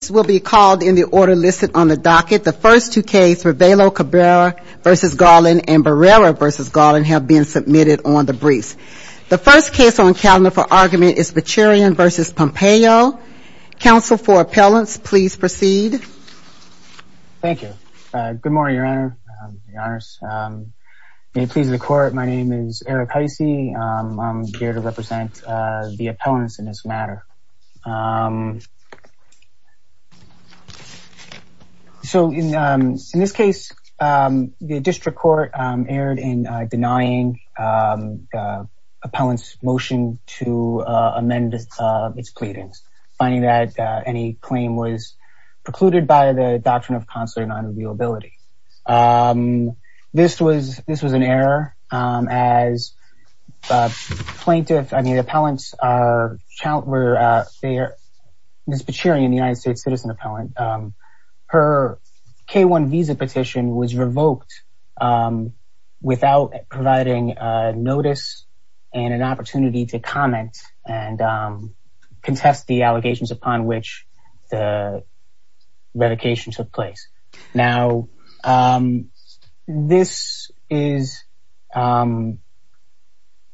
This will be called in the order listed on the docket. The first two cases, Ravello-Cabrera v. Garland and Barrera v. Garland have been submitted on the briefs. The first case on calendar for argument is Bechirian v. Pompeo. Counsel for appellants, please proceed. Thank you. Good morning, Your Honor. May it please the Court, my name is Eric Heisey. I'm here to represent the appellants in this matter. So in this case, the district court erred in denying the appellant's motion to amend its pleadings, finding that any claim was precluded by the doctrine of consular non-reviewability. This was an error. As plaintiffs, I mean, appellants are, Ms. Bechirian, a United States citizen appellant, her K-1 visa petition was revoked without providing notice and an opportunity to comment and contest the allegations upon which the revocation took place. Now, this is, you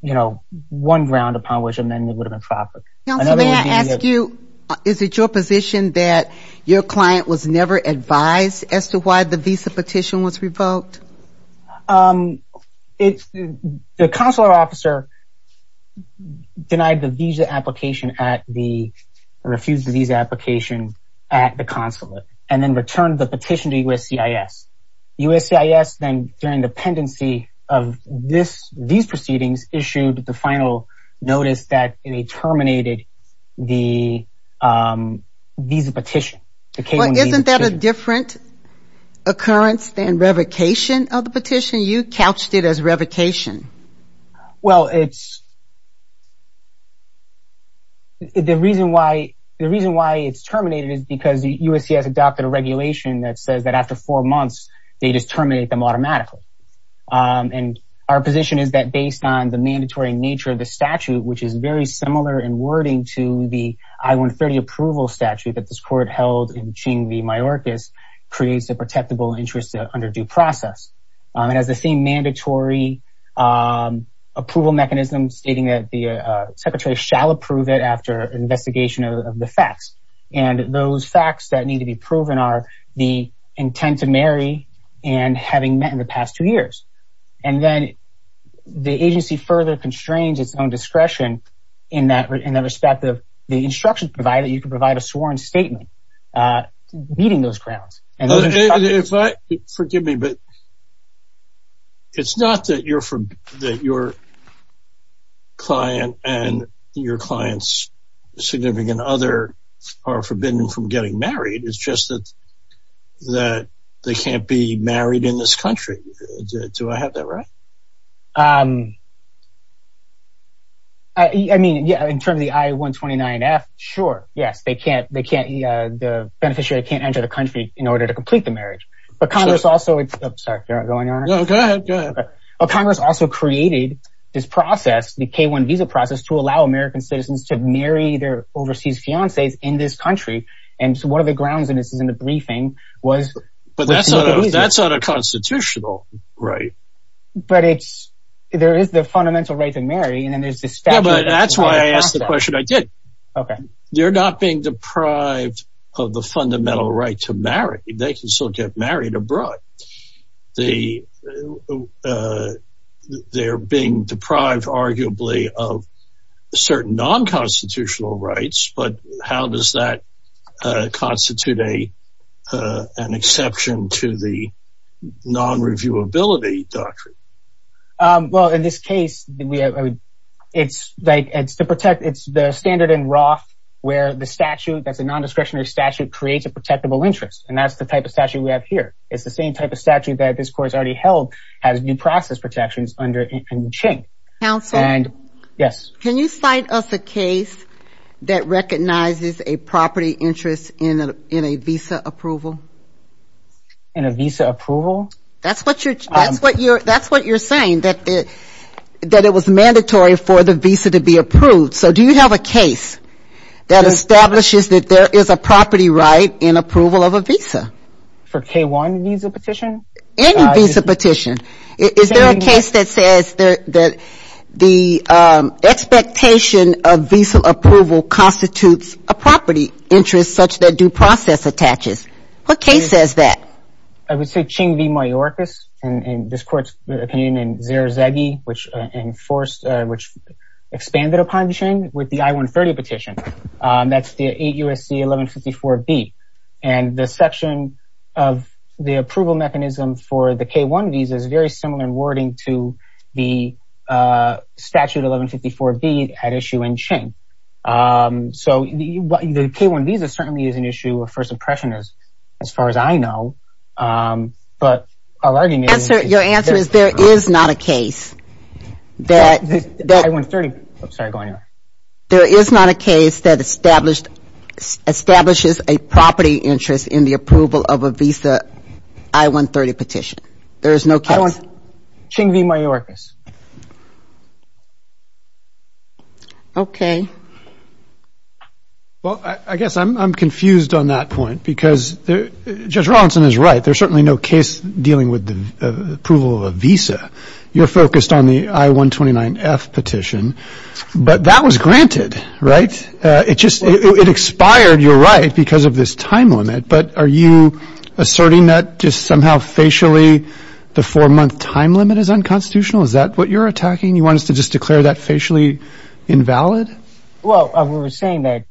know, one ground upon which amending would have been proper. Counsel, may I ask you, is it your position that your client was never advised as to why the visa petition was revoked? The consular officer denied the visa application at the, refused the visa application at the consulate and then returned the petition to USCIS. USCIS then, during the pendency of these proceedings, issued the final notice that they terminated the visa petition, the K-1 visa petition. Isn't that a different occurrence than revocation of the petition? You couched it as revocation. Well, it's, the reason why, the reason why it's terminated is because USCIS adopted a regulation that says that after four months, they just terminate them automatically. And our position is that based on the mandatory nature of the statute, which is very similar in wording to the I-130 approval statute that this court held in between the mayorcas, creates a protectable interest under due process. It has the same mandatory approval mechanism stating that the secretary shall approve it after investigation of the facts. And those facts that need to be proven are the intent to marry and having met in the past two years. And then the agency further constrains its own discretion in that respect of the instructions provided, you can provide a sworn statement meeting those grounds. Forgive me, but it's not that your client and your client's significant other are forbidden from getting married. It's just that they can't be married in this country. Do I have that right? I mean, yeah, in terms of the I-129F, sure, yes, they can't, they can't, the beneficiary can't enter the country in order to complete the marriage. But Congress also created this process, the K-1 visa process to allow American citizens to marry their overseas fiancés in this country. And so one of the grounds in this is in the briefing was. But that's not a constitutional right. But it's there is the fundamental right to marry. And then there's this. But that's why I asked the question. I did. OK. You're not being deprived of the fundamental right to marry. They can still get married abroad. They're being deprived, arguably, of certain non-constitutional rights. But how does that constitute an exception to the non-reviewability doctrine? Well, in this case, it's the standard in Roth where the statute, that's a nondiscretionary statute, creates a protectable interest. And that's the type of statute we have here. It's the same type of statute that this court has already held has new process protections under it in the chain. Counsel? Yes. Can you cite us a case that recognizes a property interest in a visa approval? In a visa approval? That's what you're saying, that it was mandatory for the visa to be approved. So do you have a case that establishes that there is a property right in approval of a visa? For K-1 visa petition? Any visa petition. Is there a case that says that the expectation of visa approval constitutes a property interest such that due process attaches? What case says that? I would say Ching v. Mayorkas. And this court's opinion in Zerzaghi, which expanded upon Ching with the I-130 petition. That's the 8 U.S.C. 1154B. And the section of the approval mechanism for the K-1 visa is very similar in wording to the statute 1154B at issue in Ching. So the K-1 visa certainly is an issue of first impression as far as I know. But our argument is... Your answer is there is not a case that... The I-130... I'm sorry. Go ahead. There is not a case that establishes a property interest in the approval of a visa I-130 petition. There is no case. I don't want... Ching v. Mayorkas. Okay. Well, I guess I'm confused on that point because Judge Rawlinson is right. There's certainly no case dealing with the approval of a visa. You're focused on the I-129F petition. But that was granted, right? It just... It expired, you're right, because of this time limit. But are you asserting that just somehow facially the four-month time limit is unconstitutional? Is that what you're attacking? You want us to just declare that facially invalid? Well, we were saying that...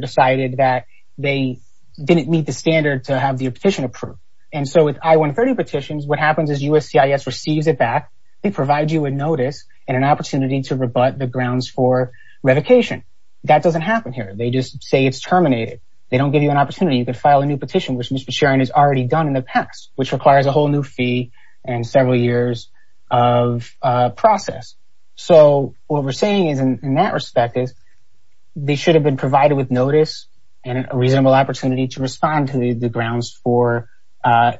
...decided that they didn't meet the standard to have the petition approved. And so with I-130 petitions, what happens is USCIS receives it back. They provide you a notice and an opportunity to rebut the grounds for revocation. That doesn't happen here. They just say it's terminated. They don't give you an opportunity. You could file a new petition, which Mr. Sharon has already done in the past, which requires a whole new fee and several years of process. So what we're saying in that respect is they should have been provided with notice and a reasonable opportunity to respond to the grounds for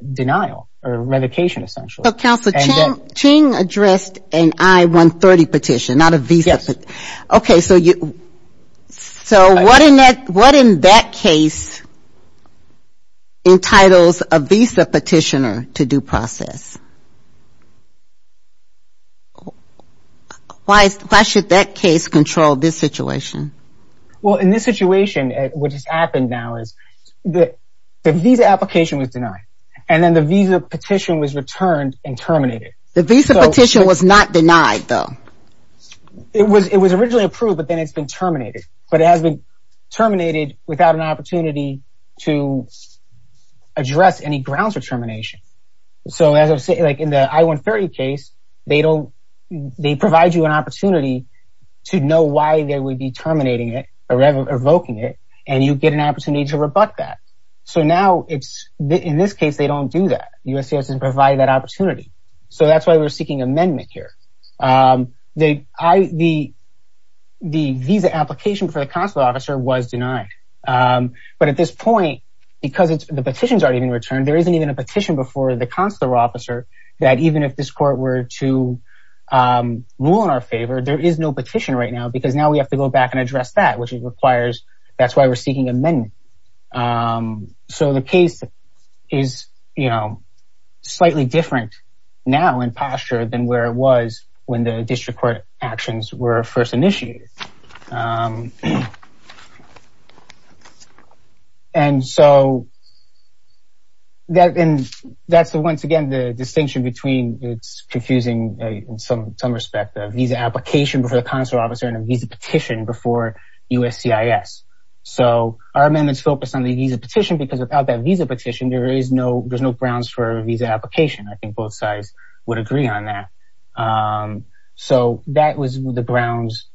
denial or revocation, essentially. So, Counselor, Ching addressed an I-130 petition, not a visa petition. Yes. Okay, so what in that case entitles a visa petitioner to due process? Why should that case control this situation? Well, in this situation, what has happened now is the visa application was denied. And then the visa petition was returned and terminated. The visa petition was not denied, though. It was originally approved, but then it's been terminated. But it has been terminated without an opportunity to address any grounds for termination. So in the I-130 case, they provide you an opportunity to know why they would be terminating it or revoking it, and you get an opportunity to rebut that. So now, in this case, they don't do that. USCIS doesn't provide that opportunity. So that's why we're seeking amendment here. The visa application for the Counselor Officer was denied. But at this point, because the petitions aren't even returned, there isn't even a petition before the Counselor Officer that even if this court were to rule in our favor, there is no petition right now because now we have to go back and address that, which requires that's why we're seeking amendment. So the case is slightly different now in posture than where it was when the district court actions were first initiated. And so that's, once again, the distinction between, it's confusing in some respect, the visa application for the Counselor Officer and a visa petition before USCIS. So our amendments focus on the visa petition because without that visa petition, there's no grounds for a visa application. I think both sides would agree on that. So that was the grounds.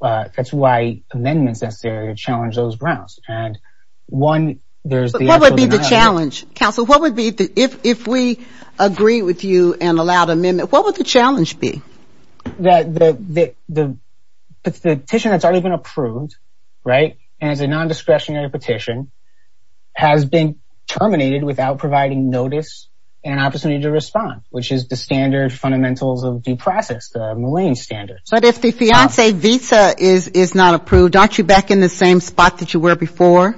That's why amendments necessary to challenge those grounds. And one, there's the challenge. Counsel, what would be if we agree with you and allowed amendment? What would the challenge be? That the petition that's already been approved, right? And it's a non-discretionary petition has been terminated without providing notice and an opportunity to respond, which is the standard fundamentals of due process, the Mulane standard. But if the fiancee visa is not approved, aren't you back in the same spot that you were before?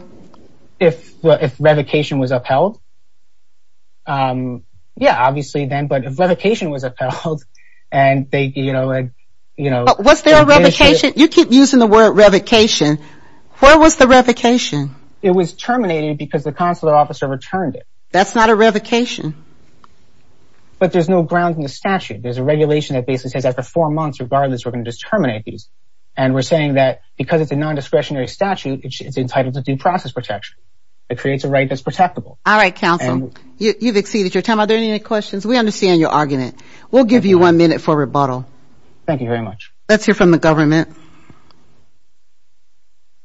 If revocation was upheld, yeah, obviously then. But if revocation was upheld and they, you know, Was there a revocation? You keep using the word revocation. Where was the revocation? It was terminated because the Counselor Officer returned it. That's not a revocation. But there's no grounds in the statute. There's a regulation that basically says after four months, regardless, we're going to terminate these. And we're saying that because it's a non-discretionary statute, it's entitled to due process protection. It creates a right that's protectable. All right, Counsel. You've exceeded your time. Are there any questions? We understand your argument. We'll give you one minute for rebuttal. Thank you very much. Let's hear from the government.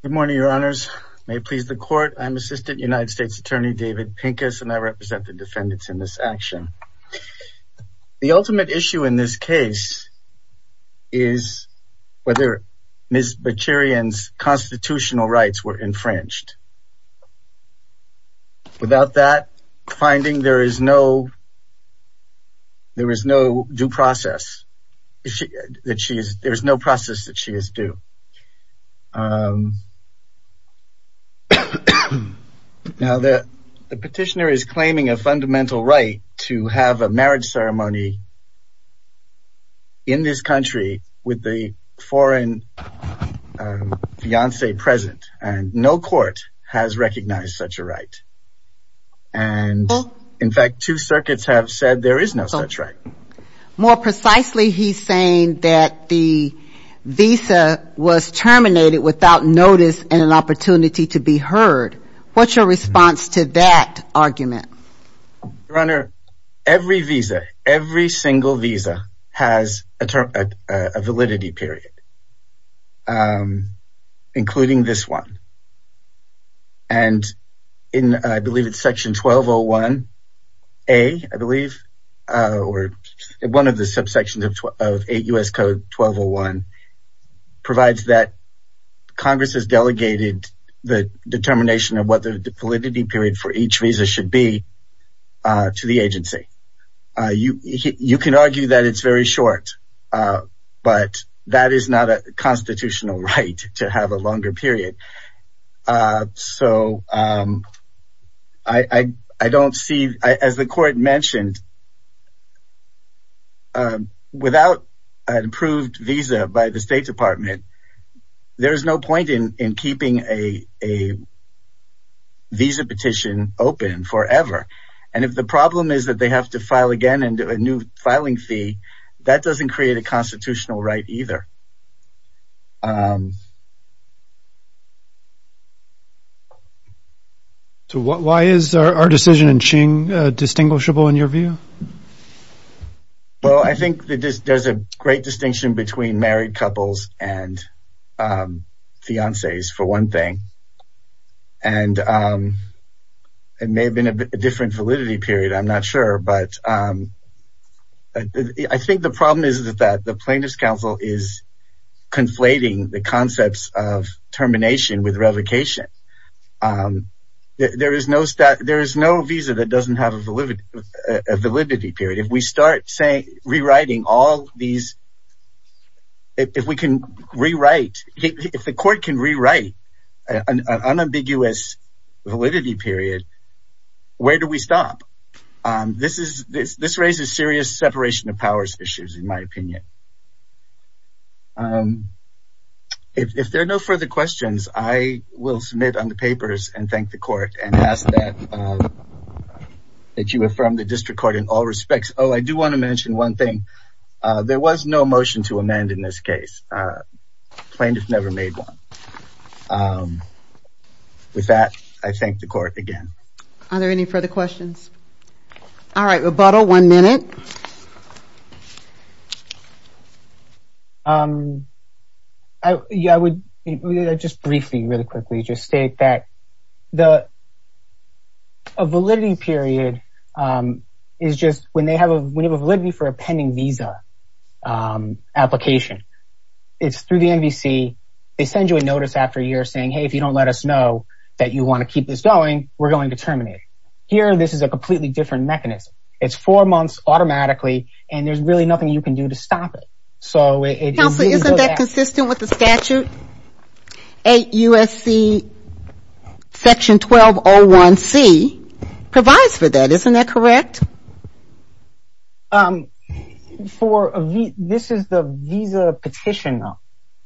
Good morning, Your Honors. May it please the Court. I'm Assistant United States Attorney David Pincus, and I represent the defendants in this action. The ultimate issue in this case is whether Ms. Bachirian's constitutional rights were infringed. Without that finding, there is no due process. There is no process that she is due. Now, the petitioner is claiming a fundamental right to have a marriage ceremony in this country with the foreign fiance present. And no court has recognized such a right. And in fact, two circuits have said there is no such right. More precisely, he's saying that the visa was terminated without notice and an opportunity to be heard. Your Honor, every visa, every single visa has a validity period, including this one. And I believe it's Section 1201A, I believe, or one of the subsections of 8 U.S. Code 1201, provides that Congress has delegated the determination of what the validity period for each visa should be to the agency. You can argue that it's very short, but that is not a constitutional right to have a longer period. So I don't see, as the court mentioned, without an approved visa by the State Department, there is no point in keeping a visa petition open forever. And if the problem is that they have to file again and do a new filing fee, that doesn't create a constitutional right either. So why is our decision in Qing distinguishable in your view? Well, I think there's a great distinction between married couples and fiances, for one thing. And it may have been a different validity period, I'm not sure. But I think the problem is that the Plaintiff's Counsel is conflating the concepts of termination with revocation. There is no visa that doesn't have a validity period. If we start rewriting all these, if we can rewrite, if the court can rewrite an unambiguous validity period, where do we stop? This raises serious separation of powers issues, in my opinion. If there are no further questions, I will submit on the papers and thank the court, and ask that you affirm the district court in all respects. Oh, I do want to mention one thing. There was no motion to amend in this case. The plaintiff never made one. With that, I thank the court again. Are there any further questions? All right, rebuttal, one minute. Yeah, I would just briefly, really quickly, just state that a validity period is just when they have a validity for a pending visa application. It's through the NVC. They send you a notice after a year saying, hey, if you don't let us know that you want to keep this going, we're going to terminate it. Here, this is a completely different mechanism. It's four months automatically, and there's really nothing you can do to stop it. Counselor, isn't that consistent with the statute? 8 U.S.C. section 1201C provides for that. Isn't that correct? Yes. This is the visa petition, though,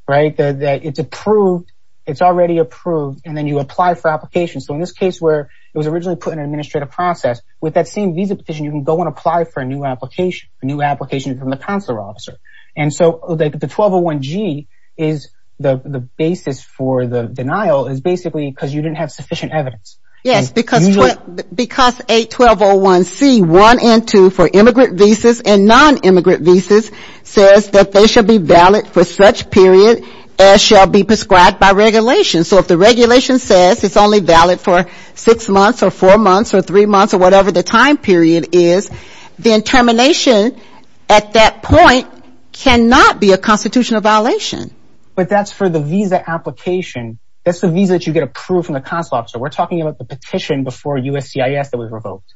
right? It's approved. It's already approved, and then you apply for application. So in this case where it was originally put in an administrative process, with that same visa petition, you can go and apply for a new application, a new application from the counselor officer. And so the 1201G is the basis for the denial is basically because you didn't have sufficient evidence. Yes, because 81201C1 and 2 for immigrant visas and nonimmigrant visas says that they should be valid for such period as shall be prescribed by regulation. So if the regulation says it's only valid for six months or four months or three months or whatever the time period is, then termination at that point cannot be a constitutional violation. But that's for the visa application. That's the visa that you get approved from the counselor officer. We're talking about the petition before USCIS that was revoked.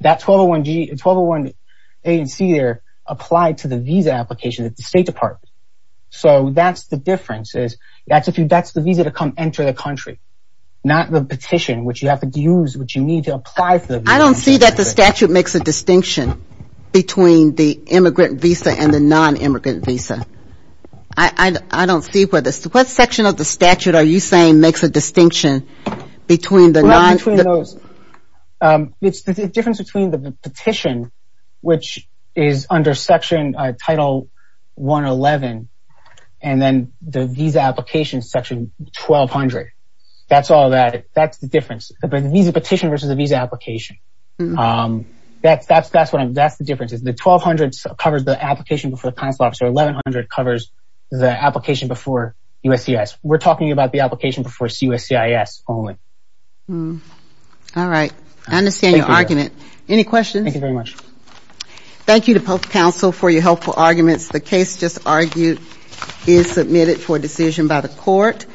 That 1201A and C there applied to the visa application at the State Department. So that's the difference is that's the visa to come enter the country, not the petition, which you have to use, which you need to apply for. I don't see that the statute makes a distinction between the immigrant visa and the nonimmigrant visa. I don't see what section of the statute are you saying makes a distinction between the non- It's the difference between the petition, which is under section title 111, and then the visa application section 1200. That's all that. That's the difference. The visa petition versus the visa application. That's the difference. The 1200 covers the application before the counselor officer. The 1100 covers the application before USCIS. We're talking about the application before USCIS only. All right. I understand your argument. Any questions? Thank you very much. Thank you to both counsel for your helpful arguments. The case just argued is submitted for decision by the court.